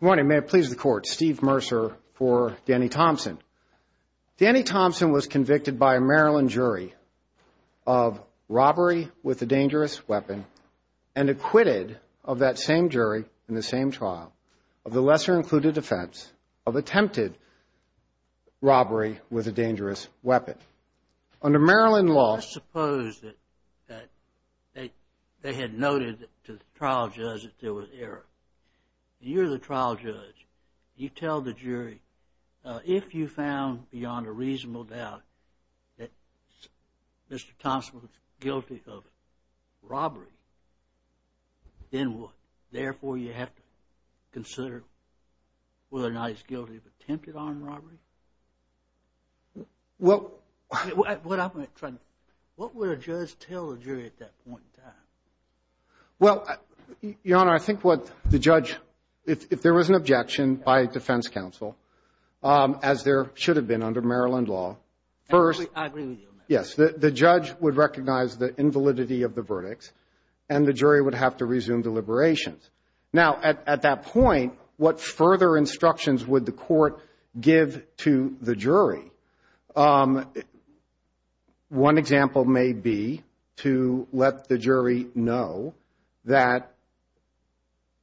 Good morning. May it please the court. Steve Mercer for Danny Thompson. Danny Thompson was convicted by a Maryland jury of robbery with a dangerous weapon and acquitted of that same jury in the same trial of the lesser-included offense of attempted robbery with a dangerous weapon. I suppose that they had noted to the trial judge that there was error. You're the trial judge. You tell the jury, if you found beyond a reasonable doubt that Mr. Thompson was guilty of robbery, then what? Therefore, you have to consider whether or not he's guilty of attempted armed robbery? What would a judge tell a jury at that point in time? Well, Your Honor, I think what the judge, if there was an objection by a defense counsel, as there should have been under Maryland law, first. I agree with you. Yes. The judge would recognize the invalidity of the verdict and the jury would have to resume deliberations. Now, at that point, what further instructions would the court give to the jury? One example may be to let the jury know that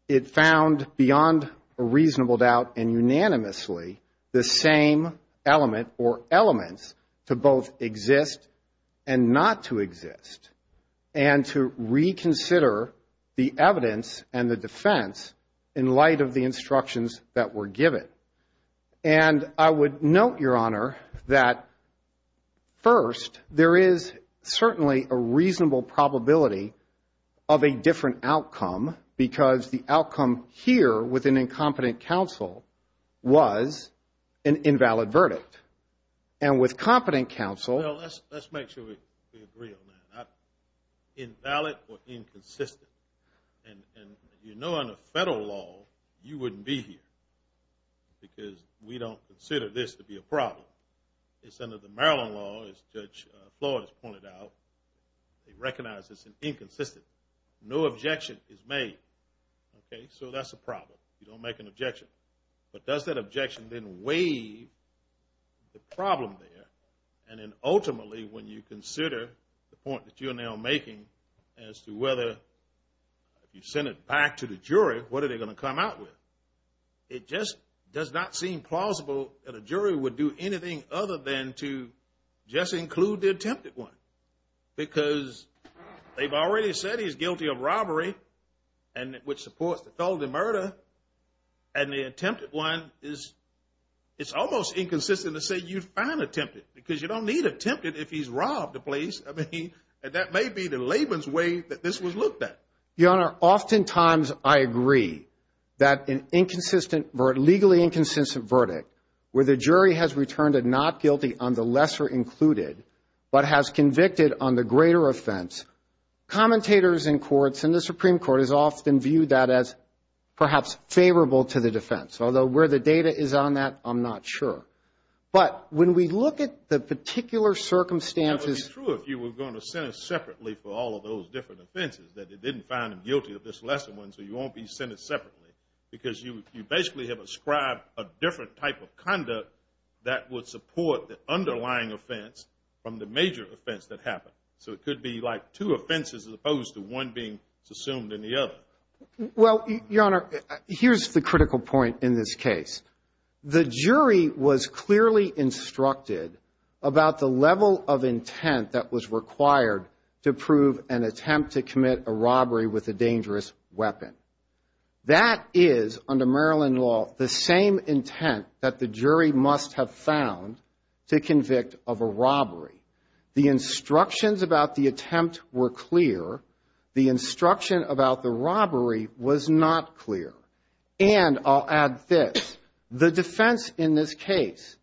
it found beyond a reasonable doubt and unanimously the same element or elements to both exist and not to exist and to reconsider the evidence and the defense in light of the instructions that were given. And I would note, Your Honor, that first, there is certainly a reasonable probability of a different outcome because the outcome here with an incompetent counsel was an invalid verdict. Well, let's make sure we agree on that. Invalid or inconsistent. And you know under federal law, you wouldn't be here because we don't consider this to be a problem. It's under the Maryland law, as Judge Flores pointed out. It recognizes an inconsistent. No objection is made. Okay? So that's a problem. You don't make an objection. But does that objection then waive the problem there? And then ultimately when you consider the point that you're now making as to whether you send it back to the jury, what are they going to come out with? It just does not seem plausible that a jury would do anything other than to just include the attempted one because they've already said he's guilty of robbery and which supports the felony murder. And the attempted one is, it's almost inconsistent to say you found attempted because you don't need attempted if he's robbed the place. I mean, that may be the layman's way that this was looked at. Your Honor, oftentimes I agree that an inconsistent, legally inconsistent verdict where the jury has returned a not guilty on the lesser included but has convicted on the greater offense, commentators in courts and the Supreme Court has often viewed that as perhaps favorable to the defense. Although where the data is on that, I'm not sure. But when we look at the particular circumstances. It would be true if you were going to send it separately for all of those different offenses, that it didn't find him guilty of this lesser one, so you won't be sent it separately because you basically have ascribed a different type of conduct that would support the underlying offense from the major offense that happened. So it could be like two offenses as opposed to one being assumed in the other. Well, Your Honor, here's the critical point in this case. The jury was clearly instructed about the level of intent that was required to prove an attempt to commit a robbery with a dangerous weapon. That is, under Maryland law, the same intent that the jury must have found to convict of a robbery. The instructions about the attempt were clear. The instruction about the robbery was not clear. And I'll add this. The defense in this case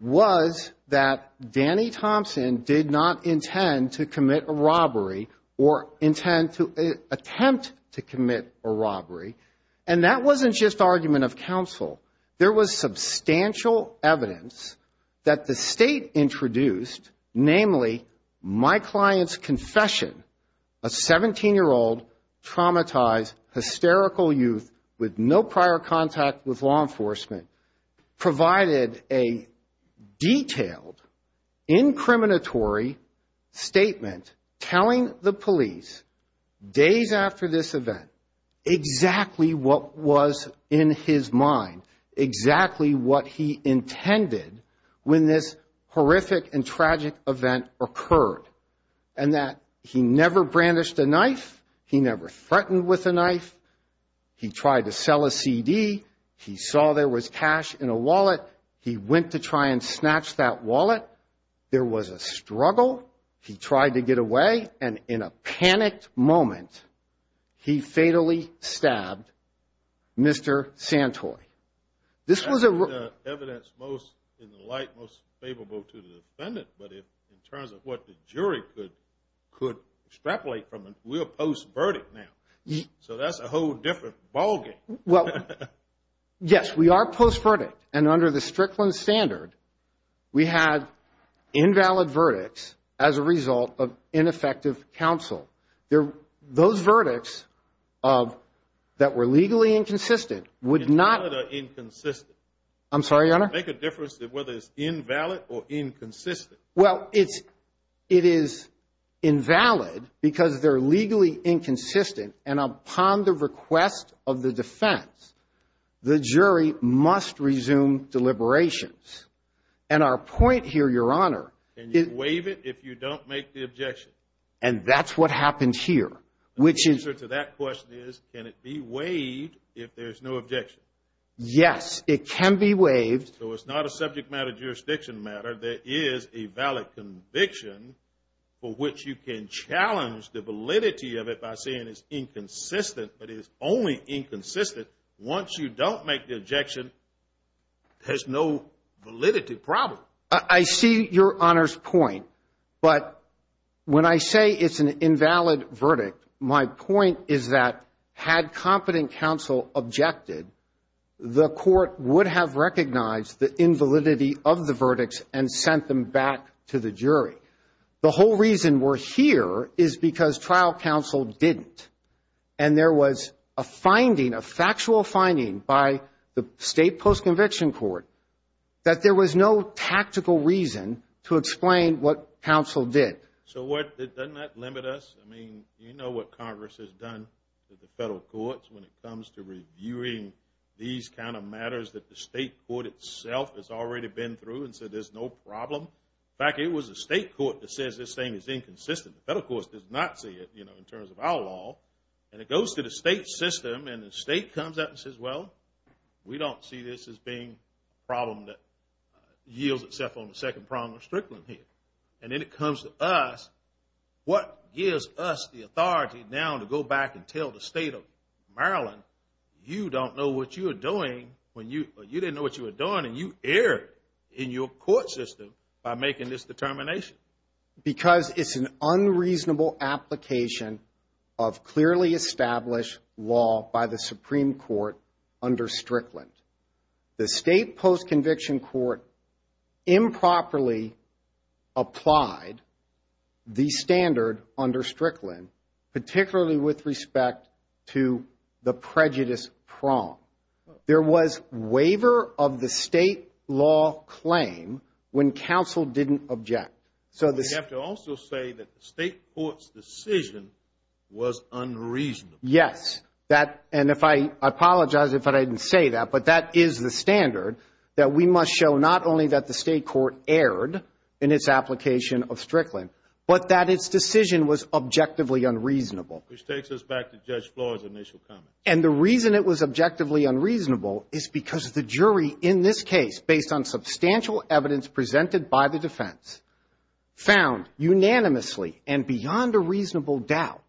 was that Danny Thompson did not intend to commit a robbery or intend to attempt to commit a robbery. And that wasn't just argument of counsel. There was substantial evidence that the state introduced, namely, my client's confession, a 17-year-old traumatized, hysterical youth with no prior contact with law enforcement, provided a detailed, incriminatory statement telling the police days after this event exactly what was in his mind. Exactly what he intended when this horrific and tragic event occurred. And that he never brandished a knife. He never threatened with a knife. He tried to sell a CD. He saw there was cash in a wallet. He went to try and snatch that wallet. There was a struggle. He tried to get away. And in a panicked moment, he fatally stabbed Mr. Santoy. That's the evidence in the light most favorable to the defendant. But in terms of what the jury could extrapolate from it, we're post-verdict now. So that's a whole different ballgame. Well, yes, we are post-verdict. And under the Strickland standard, we had invalid verdicts as a result of ineffective counsel. Those verdicts that were legally inconsistent would not— Invalid or inconsistent? I'm sorry, Your Honor? Make a difference of whether it's invalid or inconsistent. Well, it is invalid because they're legally inconsistent. And upon the request of the defense, the jury must resume deliberations. And our point here, Your Honor— Can you waive it if you don't make the objection? And that's what happened here. The answer to that question is, can it be waived if there's no objection? Yes, it can be waived. So it's not a subject matter, jurisdiction matter. There is a valid conviction for which you can challenge the validity of it by saying it's inconsistent. But it's only inconsistent once you don't make the objection. There's no validity problem. I see Your Honor's point. But when I say it's an invalid verdict, my point is that had competent counsel objected, the court would have recognized the invalidity of the verdicts and sent them back to the jury. The whole reason we're here is because trial counsel didn't. And there was a finding, a factual finding, by the state post-conviction court that there was no tactical reason to explain what counsel did. So what—doesn't that limit us? I mean, you know what Congress has done to the federal courts when it comes to reviewing these kind of matters that the state court itself has already been through and said there's no problem. In fact, it was the state court that says this thing is inconsistent. The federal court does not see it, you know, in terms of our law. And it goes to the state system, and the state comes out and says, well, we don't see this as being a problem that yields itself on the second problem of Strickland here. And then it comes to us. What gives us the authority now to go back and tell the state of Maryland, you don't know what you were doing when you—you didn't know what you were doing, and you erred in your court system by making this determination? Because it's an unreasonable application of clearly established law by the Supreme Court under Strickland. The state post-conviction court improperly applied the standard under Strickland, particularly with respect to the prejudice prong. There was waiver of the state law claim when counsel didn't object. You have to also say that the state court's decision was unreasonable. Yes. And if I—I apologize if I didn't say that, but that is the standard, that we must show not only that the state court erred in its application of Strickland, but that its decision was objectively unreasonable. Which takes us back to Judge Flores' initial comment. And the reason it was objectively unreasonable is because the jury in this case, based on substantial evidence presented by the defense, found unanimously and beyond a reasonable doubt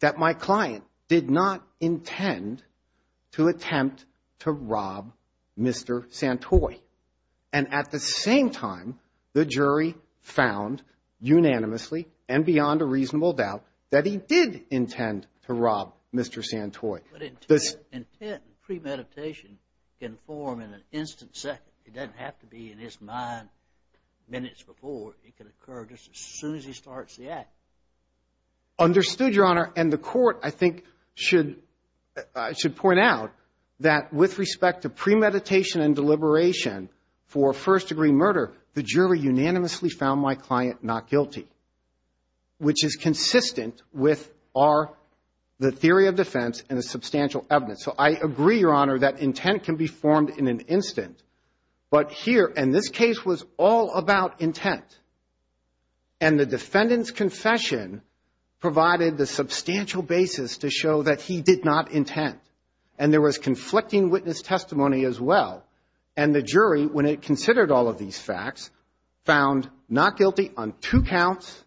that my client did not intend to attempt to rob Mr. Santoy. And at the same time, the jury found unanimously and beyond a reasonable doubt that he did intend to rob Mr. Santoy. But intent and premeditation can form in an instant second. It doesn't have to be in his mind minutes before. It can occur just as soon as he starts the act. Understood, Your Honor. And the court, I think, should—should point out that with respect to premeditation and deliberation for first-degree murder, the jury unanimously found my client not guilty, which is consistent with our—the theory of defense and the substantial evidence. So I agree, Your Honor, that intent can be formed in an instant. But here—and this case was all about intent. And the defendant's confession provided the substantial basis to show that he did not intend. And there was conflicting witness testimony as well. And the jury, when it considered all of these facts, found not guilty on two counts,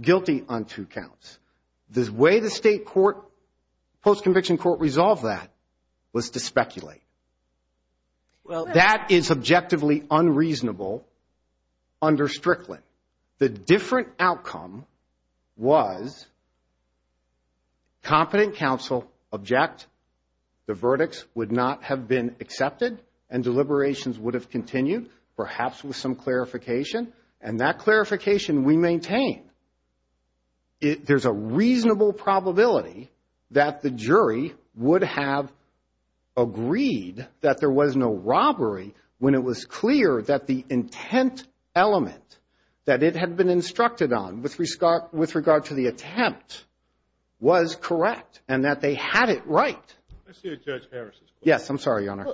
guilty on two counts. The way the state court—post-conviction court resolved that was to speculate. Well, that is objectively unreasonable under Strickland. The different outcome was competent counsel object, the verdicts would not have been accepted, and deliberations would have continued, perhaps with some clarification. And that clarification we maintain. There's a reasonable probability that the jury would have agreed that there was no robbery when it was clear that the intent element that it had been instructed on with regard to the attempt was correct and that they had it right. I see a Judge Harris's question. Yes, I'm sorry, Your Honor.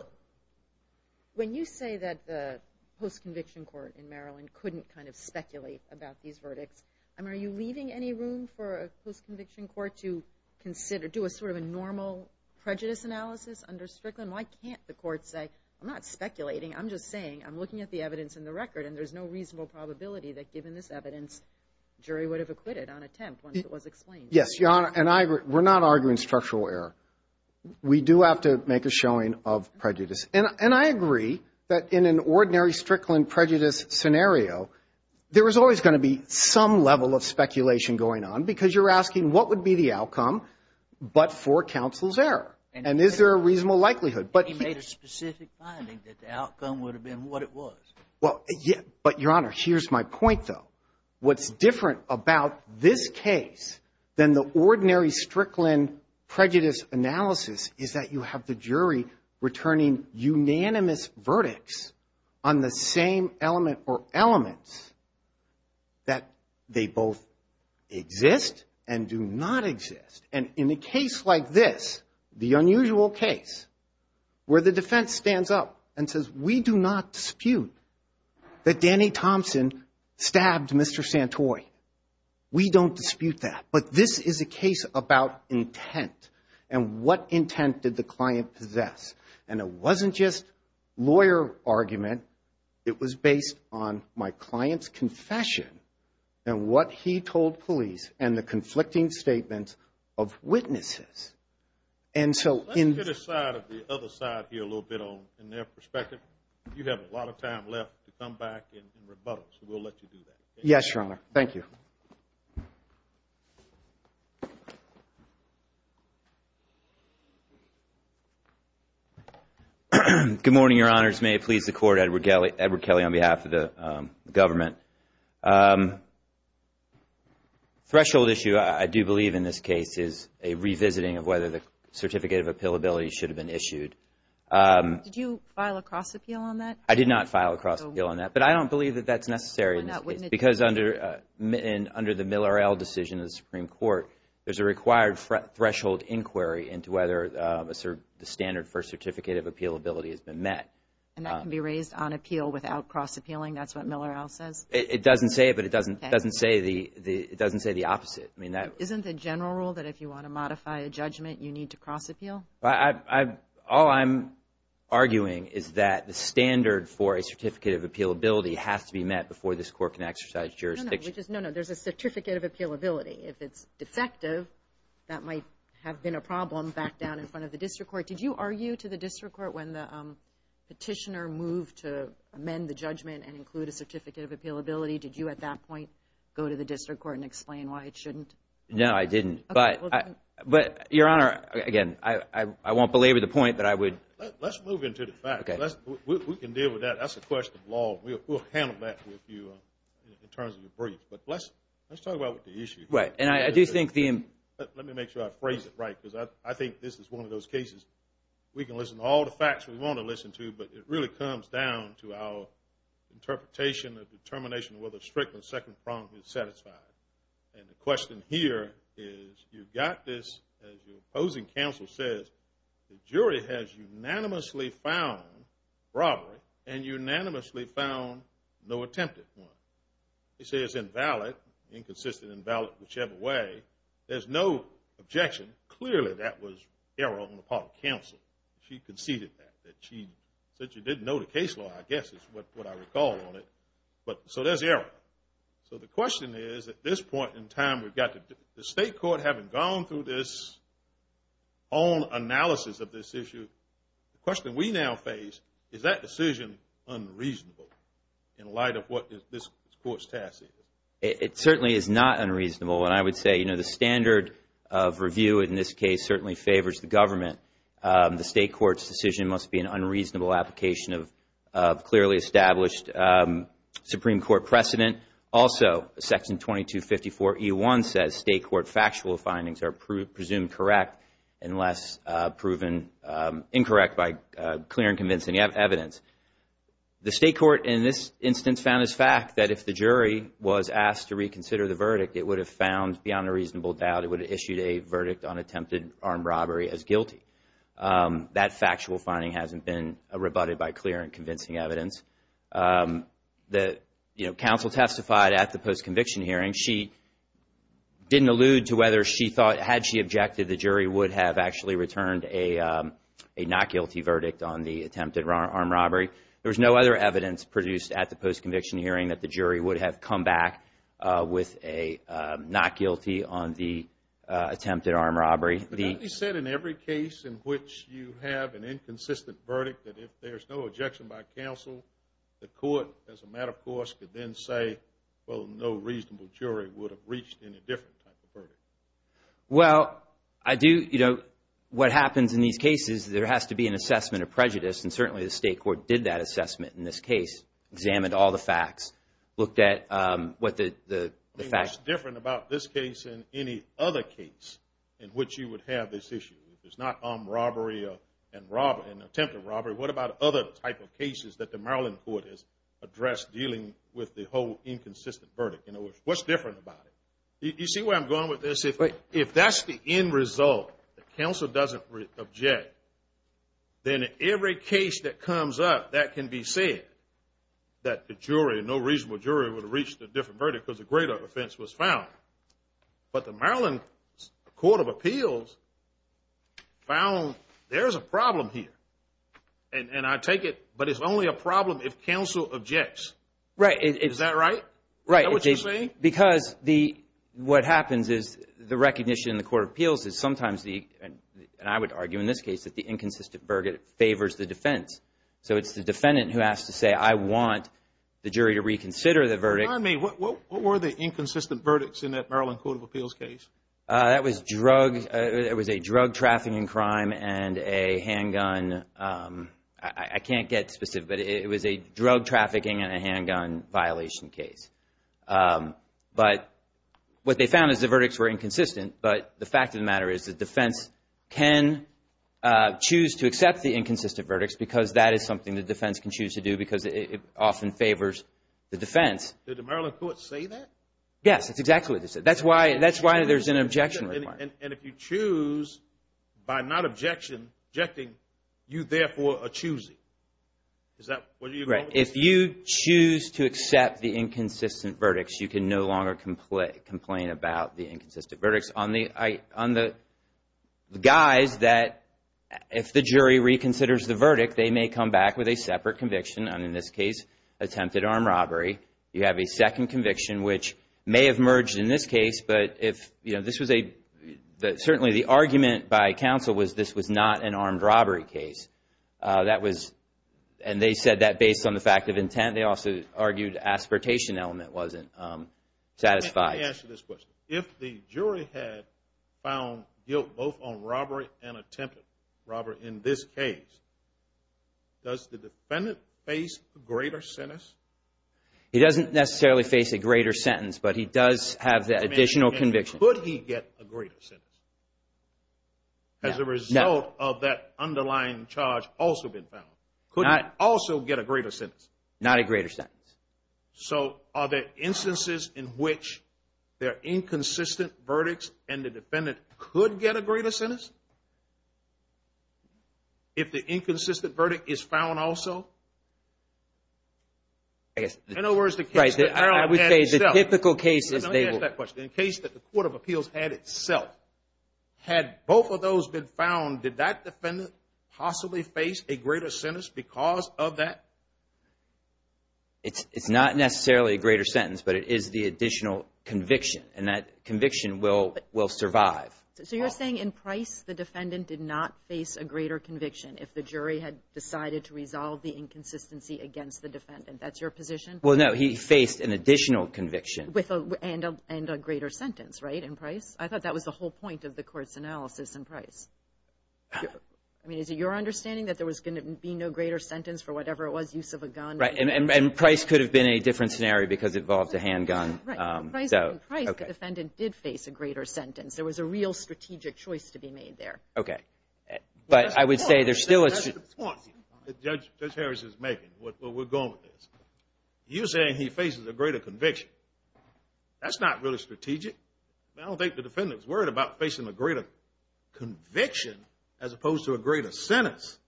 When you say that the post-conviction court in Maryland couldn't kind of speculate about these verdicts, are you leaving any room for a post-conviction court to do a sort of a normal prejudice analysis under Strickland? Why can't the court say, I'm not speculating, I'm just saying I'm looking at the evidence in the record and there's no reasonable probability that given this evidence, jury would have acquitted on attempt once it was explained? Yes, Your Honor. And we're not arguing structural error. We do have to make a showing of prejudice. And I agree that in an ordinary Strickland prejudice scenario, there is always going to be some level of speculation going on because you're asking, what would be the outcome but for counsel's error? And is there a reasonable likelihood? But he made a specific finding that the outcome would have been what it was. But, Your Honor, here's my point, though. What's different about this case than the ordinary Strickland prejudice analysis is that you have the jury returning unanimous verdicts on the same element or elements that they both exist and do not exist. And in a case like this, the unusual case, where the defense stands up and says, we do not dispute that Danny Thompson stabbed Mr. Santoy. We don't dispute that. But this is a case about intent and what intent did the client possess. And it wasn't just lawyer argument. It was based on my client's confession and what he told police and the conflicting statements of witnesses. Let's get a side of the other side here a little bit in their perspective. You have a lot of time left to come back and rebuttal, so we'll let you do that. Yes, Your Honor. Thank you. Good morning, Your Honors. May it please the Court. Edward Kelly on behalf of the government. Threshold issue, I do believe in this case, is a revisiting of whether the certificate of appealability should have been issued. Did you file a cross-appeal on that? I did not file a cross-appeal on that, but I don't believe that that's necessary in this case. Why not? Because under the Miller L. decision of the Supreme Court, there's a required threshold inquiry into whether the standard for certificate of appealability has been met. And that can be raised on appeal without cross-appealing? That's what Miller L. says? It doesn't say it, but it doesn't say the opposite. Isn't the general rule that if you want to modify a judgment, you need to cross-appeal? All I'm arguing is that the standard for a certificate of appealability has to be met before this Court can exercise jurisdiction. No, no. There's a certificate of appealability. If it's defective, that might have been a problem back down in front of the district court. Did you argue to the district court when the petitioner moved to amend the judgment and include a certificate of appealability? Did you at that point go to the district court and explain why it shouldn't? No, I didn't. But, Your Honor, again, I won't belabor the point, but I would. Let's move into the facts. We can deal with that. That's a question of law. We'll handle that with you in terms of your briefs. But let's talk about the issue. Right. And I do think the – let me make sure I phrase it right because I think this is one of those cases we can listen to all the facts we want to listen to, but it really comes down to our interpretation of determination of whether a strict or second prong is satisfied. And the question here is you've got this, as your opposing counsel says, the jury has unanimously found robbery and unanimously found no attempted one. They say it's invalid, inconsistent, invalid whichever way. There's no objection. Clearly that was error on the part of counsel. She conceded that. She said she didn't know the case law, I guess is what I recall on it. So there's error. So the question is at this point in time we've got the state court having gone through this own analysis of this issue, the question we now face is that decision unreasonable in light of what this court's task is? It certainly is not unreasonable. And I would say, you know, the standard of review in this case certainly favors the government. The state court's decision must be an unreasonable application of clearly established Supreme Court precedent. Also, Section 2254E1 says state court factual findings are presumed correct unless proven incorrect by clear and convincing evidence. The state court in this instance found as fact that if the jury was asked to reconsider the verdict, it would have found beyond a reasonable doubt it would have issued a verdict on attempted armed robbery as guilty. That factual finding hasn't been rebutted by clear and convincing evidence. You know, counsel testified at the post-conviction hearing. She didn't allude to whether she thought, had she objected, the jury would have actually returned a not guilty verdict on the attempted armed robbery. There was no other evidence produced at the post-conviction hearing that the jury would have come back with a not guilty on the attempted armed robbery. But you said in every case in which you have an inconsistent verdict, that if there's no objection by counsel, the court as a matter of course could then say, well, no reasonable jury would have reached any different type of verdict. Well, I do, you know, what happens in these cases, there has to be an assessment of prejudice. And certainly the state court did that assessment in this case, examined all the facts, looked at what the facts. What's different about this case than any other case in which you would have this issue? It's not armed robbery and attempted robbery. What about other type of cases that the Maryland court has addressed dealing with the whole inconsistent verdict? You know, what's different about it? You see where I'm going with this? If that's the end result, the counsel doesn't object, then every case that comes up that can be said that the jury, no reasonable jury would have reached a different verdict because a greater offense was found. But the Maryland Court of Appeals found there's a problem here. And I take it, but it's only a problem if counsel objects. Right. Right. Is that what you're saying? Because the, what happens is the recognition in the court of appeals is sometimes the, and I would argue in this case that the inconsistent verdict favors the defense. So it's the defendant who has to say, I want the jury to reconsider the verdict. What were the inconsistent verdicts in that Maryland Court of Appeals case? That was drug, it was a drug trafficking crime and a handgun, I can't get specific, but it was a drug trafficking and a handgun violation case. But what they found is the verdicts were inconsistent, but the fact of the matter is the defense can choose to accept the inconsistent verdicts because that is something the defense can choose to do because it often favors the defense. Did the Maryland Court say that? Yes, that's exactly what they said. That's why there's an objection requirement. And if you choose by not objecting, you therefore are choosing. Is that what you're going with? Right. If you choose to accept the inconsistent verdicts, you can no longer complain about the inconsistent verdicts. On the guys that, if the jury reconsiders the verdict, they may come back with a separate conviction, and in this case attempted armed robbery. You have a second conviction, which may have merged in this case, but certainly the argument by counsel was this was not an armed robbery case. And they said that based on the fact of intent. They also argued the aspiratation element wasn't satisfied. Let me ask you this question. If the jury had found guilt both on robbery and attempted robbery in this case, does the defendant face a greater sentence? He doesn't necessarily face a greater sentence, but he does have the additional conviction. Could he get a greater sentence as a result of that underlying charge also being found? Could he also get a greater sentence? Not a greater sentence. So are there instances in which there are inconsistent verdicts and the defendant could get a greater sentence if the inconsistent verdict is found also? Right. I would say the typical case is they will. Let me ask that question. In the case that the Court of Appeals had itself, had both of those been found, did that defendant possibly face a greater sentence because of that? It's not necessarily a greater sentence, but it is the additional conviction, and that conviction will survive. So you're saying in Price the defendant did not face a greater conviction if the jury had decided to resolve the inconsistency against the defendant. That's your position? Well, no, he faced an additional conviction. And a greater sentence, right, in Price? I thought that was the whole point of the Court's analysis in Price. I mean, is it your understanding that there was going to be no greater sentence for whatever it was, use of a gun? And Price could have been a different scenario because it involved a handgun. Right. In Price the defendant did face a greater sentence. There was a real strategic choice to be made there. Okay. But I would say there's still a – That's the point that Judge Harris is making where we're going with this. You're saying he faces a greater conviction. That's not really strategic. I don't think the defendant's worried about facing a greater conviction as opposed to a greater sentence.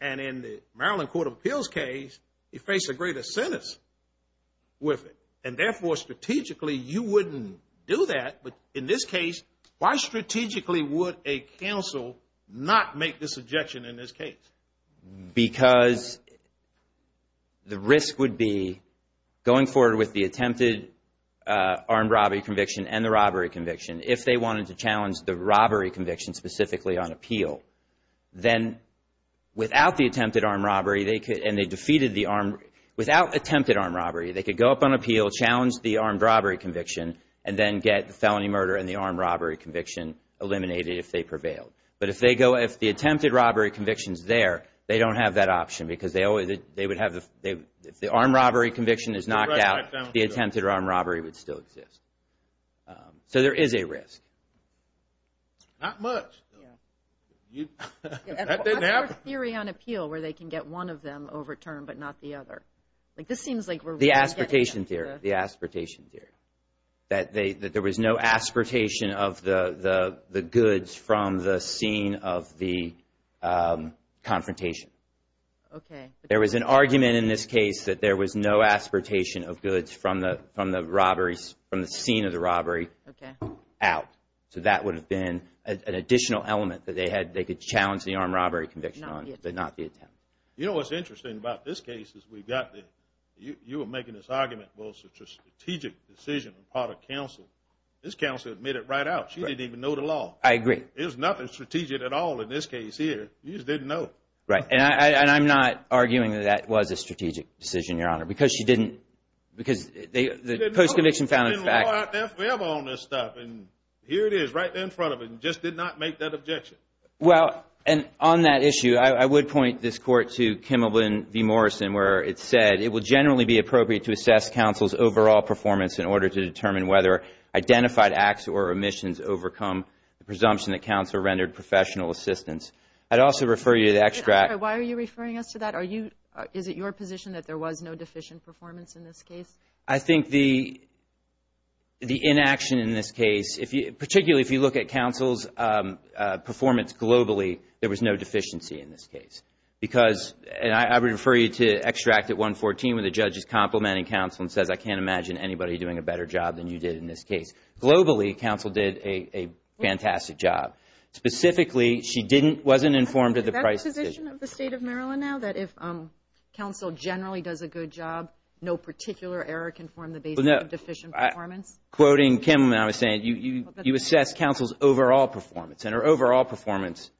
And in the Maryland Court of Appeals case, he faced a greater sentence with it. And therefore, strategically, you wouldn't do that. But in this case, why strategically would a counsel not make this objection in this case? Because the risk would be going forward with the attempted armed robbery conviction and the robbery conviction, if they wanted to challenge the robbery conviction specifically on appeal, then without the attempted armed robbery, and they defeated the armed – without attempted armed robbery, they could go up on appeal, challenge the armed robbery conviction, and then get the felony murder and the armed robbery conviction eliminated if they prevailed. But if they go – if the attempted robbery conviction's there, they don't have that option because they always – they would have – if the armed robbery conviction is knocked out, the attempted armed robbery would still exist. So there is a risk. Not much. That didn't happen. What's their theory on appeal where they can get one of them overturned but not the other? Like this seems like we're – The aspiratation theory, the aspiratation theory, that there was no aspiratation of the goods from the scene of the confrontation. Okay. There was an argument in this case that there was no aspiratation of goods from the robberies – from the scene of the robbery out. So that would have been an additional element that they had – they could challenge the armed robbery conviction on, but not the attempt. You know what's interesting about this case is we've got the – you were making this argument, well, it's a strategic decision on the part of counsel. This counsel admitted right out. She didn't even know the law. I agree. There's nothing strategic at all in this case here. You just didn't know. Right. And I'm not arguing that that was a strategic decision, Your Honor, because she didn't – because the post-conviction found – There's been law out there forever on this stuff, and here it is right there in front of us and just did not make that objection. Well, and on that issue, I would point this court to Kimmel v. Morrison where it said, it will generally be appropriate to assess counsel's overall performance in order to determine whether identified acts or omissions overcome the presumption that counsel rendered professional assistance. I'd also refer you to the extract – Why are you referring us to that? Are you – is it your position that there was no deficient performance in this case? I think the inaction in this case, particularly if you look at counsel's performance globally, there was no deficiency in this case because – and I would refer you to extract at 114 where the judge is complimenting counsel and says, I can't imagine anybody doing a better job than you did in this case. Globally, counsel did a fantastic job. Specifically, she didn't – wasn't informed of the price decision. Is that the position of the State of Maryland now, that if counsel generally does a good job, no particular error can form the basis of deficient performance? Quoting Kimmel, I was saying, you assess counsel's overall performance and her overall performance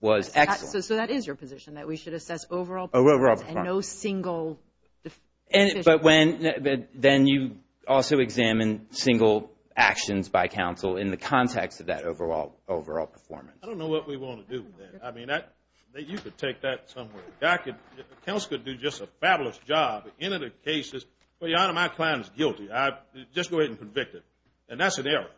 was excellent. So that is your position, that we should assess overall performance and no single deficient. But when – then you also examine single actions by counsel in the context of that overall performance. I don't know what we want to do with that. I mean, you could take that somewhere. Counsel could do just a fabulous job in other cases. But, Your Honor, my client is guilty. I just go ahead and convict him, and that's an error.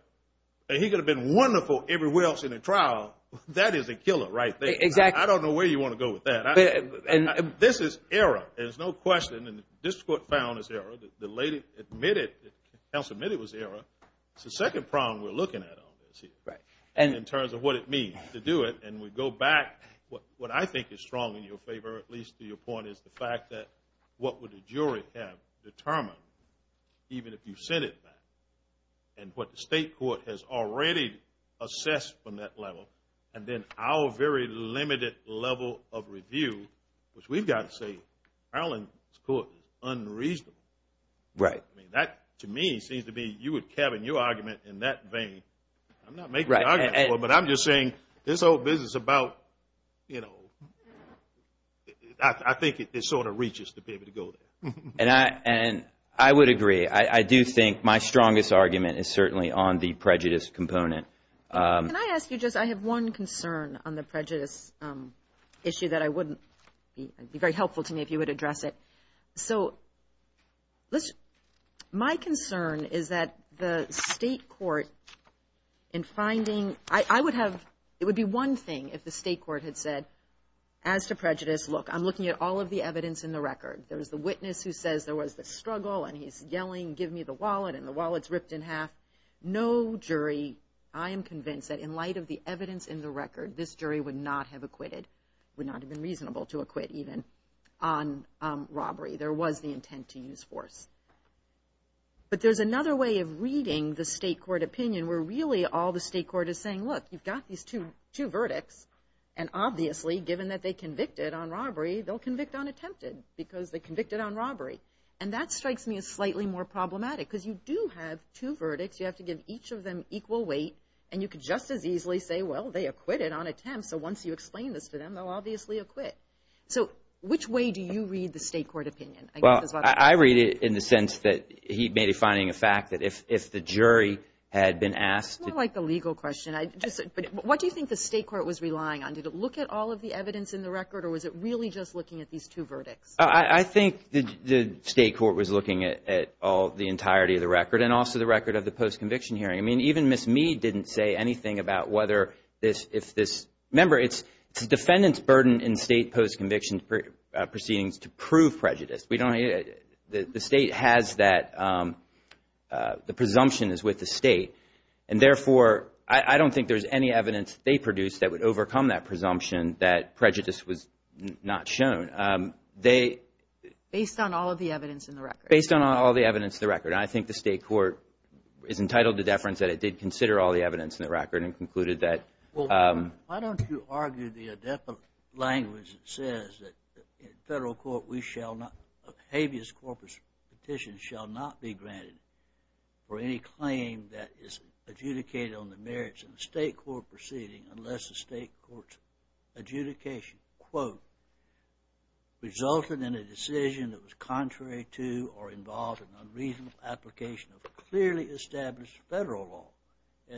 He could have been wonderful everywhere else in the trial. That is a killer right there. Exactly. I don't know where you want to go with that. This is error. There's no question. And the district court found this error. The lady admitted – counsel admitted it was error. It's the second problem we're looking at on this here in terms of what it means to do it. And we go back. What I think is strong in your favor, at least to your point, is the fact that what would the jury have determined even if you sent it back and what the state court has already assessed from that level and then our very limited level of review, which we've got to say, Maryland's court is unreasonable. Right. That, to me, seems to be you and Kevin, your argument in that vein. I'm not making an argument for it, but I'm just saying this whole business about, you know, I think it sort of reaches to be able to go there. And I would agree. I do think my strongest argument is certainly on the prejudice component. Can I ask you just – I have one concern on the prejudice issue that I wouldn't – it would be very helpful to me if you would address it. So my concern is that the state court in finding – I would have – it would be one thing if the state court had said, as to prejudice, look, I'm looking at all of the evidence in the record. There's the witness who says there was the struggle, and he's yelling, give me the wallet, and the wallet's ripped in half. No jury, I am convinced, that in light of the evidence in the record, this jury would not have acquitted, would not have been reasonable to acquit even on robbery. There was the intent to use force. But there's another way of reading the state court opinion where really all the state court is saying, look, you've got these two verdicts, and obviously, given that they convicted on robbery, they'll convict on attempted because they convicted on robbery. And that strikes me as slightly more problematic because you do have two verdicts. You have to give each of them equal weight, and you could just as easily say, well, they acquitted on attempt, so once you explain this to them, they'll obviously acquit. So which way do you read the state court opinion? Well, I read it in the sense that he may be finding a fact that if the jury had been asked – It's more like a legal question. What do you think the state court was relying on? Did it look at all of the evidence in the record, or was it really just looking at these two verdicts? I think the state court was looking at all the entirety of the record and also the record of the post-conviction hearing. I mean, even Ms. Mead didn't say anything about whether this – Remember, it's the defendant's burden in state post-conviction proceedings to prove prejudice. The state has that – the presumption is with the state. And therefore, I don't think there's any evidence they produced that would overcome that presumption that prejudice was not shown. They – Based on all of the evidence in the record. Based on all the evidence in the record. I think the state court is entitled to deference that it did consider all the evidence in the record and concluded that – Well, why don't you argue the language that says that in federal court we shall not – is adjudicated on the merits of the state court proceeding unless the state court's adjudication, quote, resulted in a decision that was contrary to or involved in unreasonable application of clearly established federal law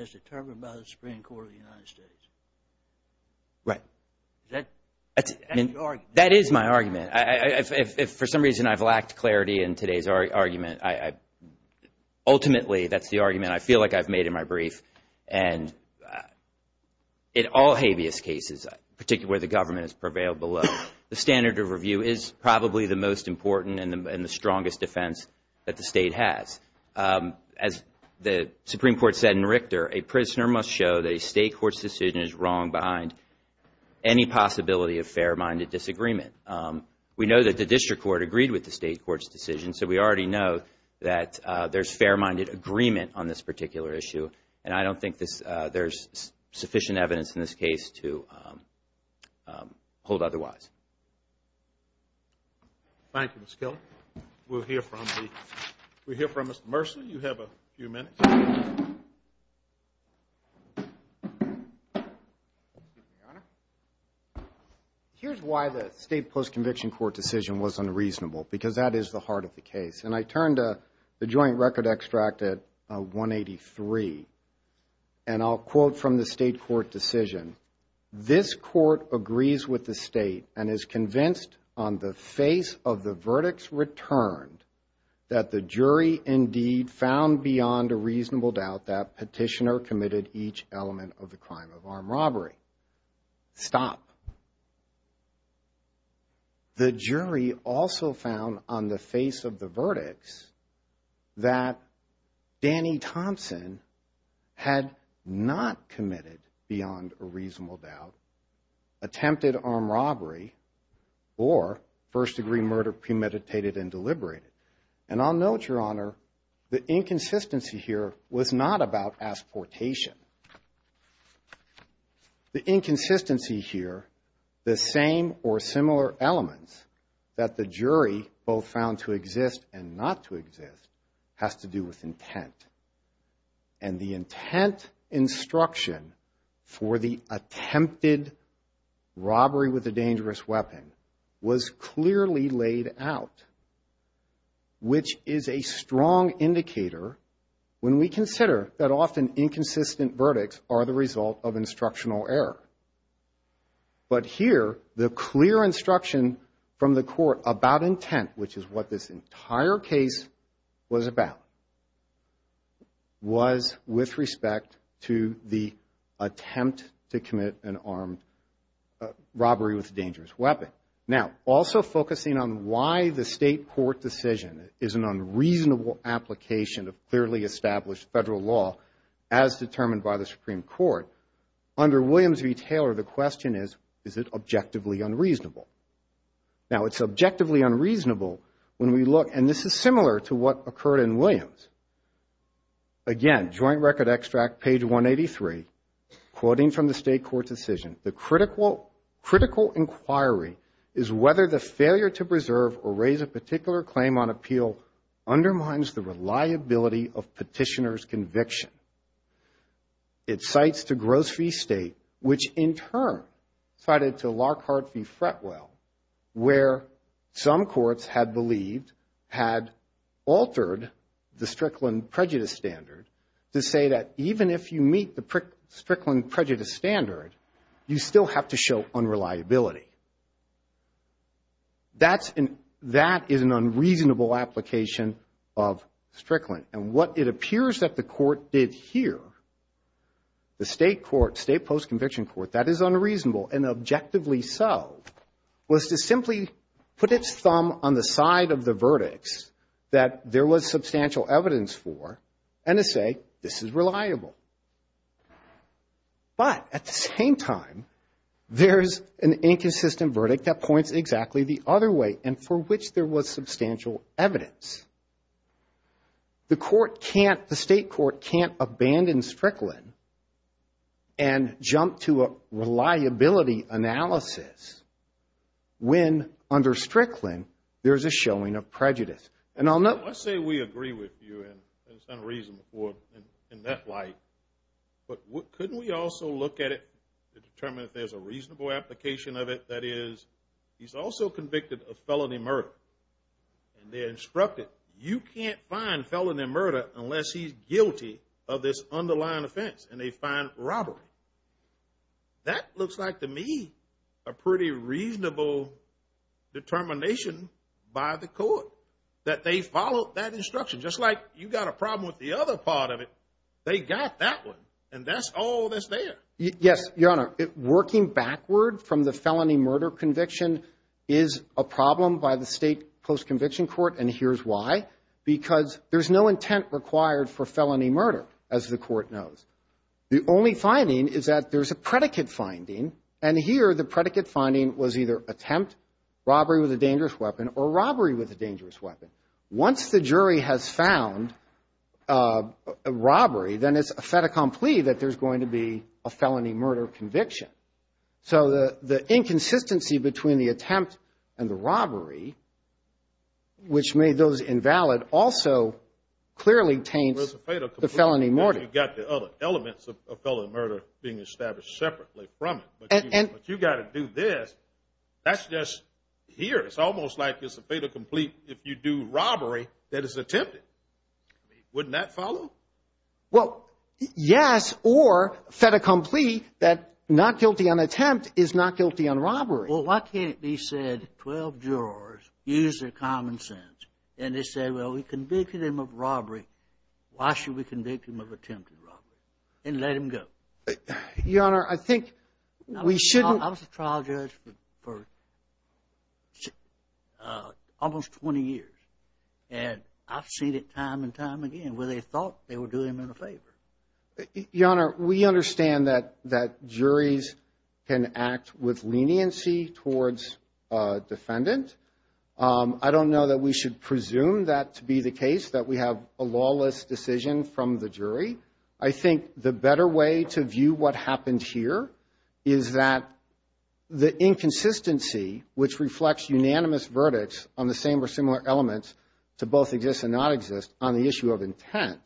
as determined by the Supreme Court of the United States. Right. That's the argument. That is my argument. If for some reason I've lacked clarity in today's argument, I – I've made in my brief, and in all habeas cases, particularly where the government has prevailed below, the standard of review is probably the most important and the strongest defense that the state has. As the Supreme Court said in Richter, a prisoner must show that a state court's decision is wrong behind any possibility of fair-minded disagreement. We know that the district court agreed with the state court's decision, so we already know that there's fair-minded agreement on this particular issue, and I don't think there's sufficient evidence in this case to hold otherwise. Thank you, Mr. Kelly. We'll hear from Mr. Mercer. You have a few minutes. Your Honor, here's why the state post-conviction court decision was unreasonable, because that is the heart of the case, and I turn to the joint record extract at 183, and I'll quote from the state court decision. This court agrees with the state and is convinced on the face of the verdicts returned that the jury indeed found beyond a reasonable doubt that petitioner committed each element of the crime of armed robbery. Stop. Stop. The jury also found on the face of the verdicts that Danny Thompson had not committed beyond a reasonable doubt attempted armed robbery or first-degree murder premeditated and deliberated. And I'll note, Your Honor, the inconsistency here was not about asportation. The inconsistency here, the same or similar elements that the jury both found to exist and not to exist, has to do with intent. And the intent instruction for the attempted robbery with a dangerous weapon was clearly laid out, which is a strong indicator when we consider that often inconsistent verdicts are the result of instructional error. But here, the clear instruction from the court about intent, which is what this entire case was about, was with respect to the attempt to commit an armed robbery with a dangerous weapon. Now, also focusing on why the state court decision is an unreasonable application of clearly established federal law as determined by the Supreme Court, under Williams v. Taylor, the question is, is it objectively unreasonable? Now, it's objectively unreasonable when we look, and this is similar to what occurred in Williams. Again, Joint Record Extract, page 183, quoting from the state court decision, the critical inquiry is whether the failure to preserve or raise a particular claim on appeal undermines the reliability of petitioner's conviction. It cites to Gross v. State, which in turn cited to Lockhart v. Fretwell, where some courts had altered the Strickland prejudice standard to say that even if you meet the Strickland prejudice standard, you still have to show unreliability. That is an unreasonable application of Strickland. And what it appears that the court did here, the state post-conviction court, that is unreasonable. And objectively so, was to simply put its thumb on the side of the verdicts that there was substantial evidence for, and to say, this is reliable. But at the same time, there's an inconsistent verdict that points exactly the other way, and for which there was substantial evidence. The court can't, the state court can't abandon Strickland and jump to a reliability analysis when under Strickland there's a showing of prejudice. Let's say we agree with you in some reason in that light. But couldn't we also look at it to determine if there's a reasonable application of it? That is, he's also convicted of felony murder. And they instructed, you can't find felony murder unless he's guilty of this underlying offense. And they find robbery. That looks like to me a pretty reasonable determination by the court, that they followed that instruction. Just like you got a problem with the other part of it, they got that one. And that's all that's there. Yes, Your Honor. Working backward from the felony murder conviction is a problem by the state post-conviction court, and here's why. Because there's no intent required for felony murder, as the court knows. The only finding is that there's a predicate finding, and here the predicate finding was either attempt, robbery with a dangerous weapon, or robbery with a dangerous weapon. Once the jury has found a robbery, then it's a fait accompli that there's going to be a felony murder conviction. So the inconsistency between the attempt and the robbery, which made those invalid, also clearly taints the felony murder. You've got the other elements of felony murder being established separately from it. But you've got to do this. That's just here. It's almost like it's a fait accompli if you do robbery that is attempted. Wouldn't that follow? Well, yes, or fait accompli, that not guilty on attempt is not guilty on robbery. Well, why can't it be said 12 jurors used their common sense, and they said, well, we convicted him of robbery. Why should we convict him of attempted robbery and let him go? Your Honor, I think we shouldn't I was a trial judge for almost 20 years, and I've seen it time and time again where they thought they were doing him a favor. Your Honor, we understand that juries can act with leniency towards a defendant. I don't know that we should presume that to be the case, that we have a lawless decision from the jury. I think the better way to view what happened here is that the inconsistency, which reflects unanimous verdicts on the same or similar elements to both exist and not exist on the issue of intent,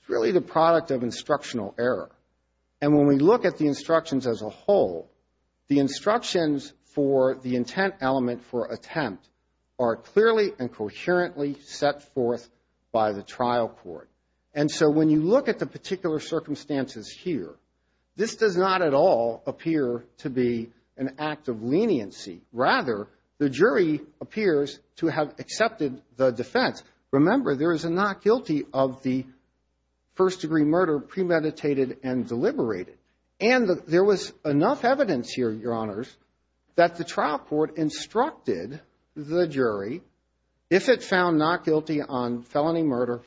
it's really the product of instructional error. And when we look at the instructions as a whole, the instructions for the intent element for attempt are clearly and coherently set forth by the trial court. And so when you look at the particular circumstances here, this does not at all appear to be an act of leniency. Rather, the jury appears to have accepted the defense. Remember, there is a not guilty of the first degree murder premeditated and deliberated. And there was enough evidence here, Your Honors, that the trial court instructed the jury, if it found not guilty on felony murder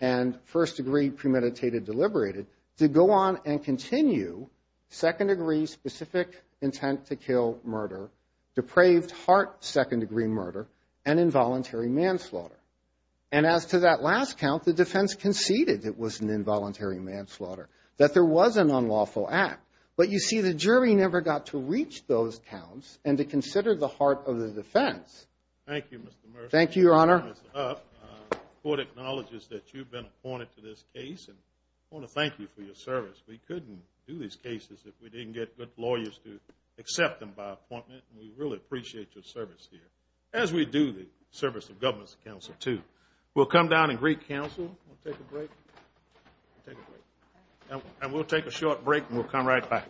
and first degree premeditated deliberated, to go on and continue second degree specific intent to kill murder, depraved heart second degree murder, and involuntary manslaughter. And as to that last count, the defense conceded it was an involuntary manslaughter, that there was an unlawful act. But you see, the jury never got to reach those counts and to consider the heart of the defense. Thank you, Your Honor. The court acknowledges that you've been appointed to this case and I want to thank you for your service. We couldn't do these cases if we didn't get good lawyers to accept them by appointment. And we really appreciate your service here, as we do the service of government's counsel, too. We'll come down and greet counsel. We'll take a break. And we'll take a short break and we'll come right back.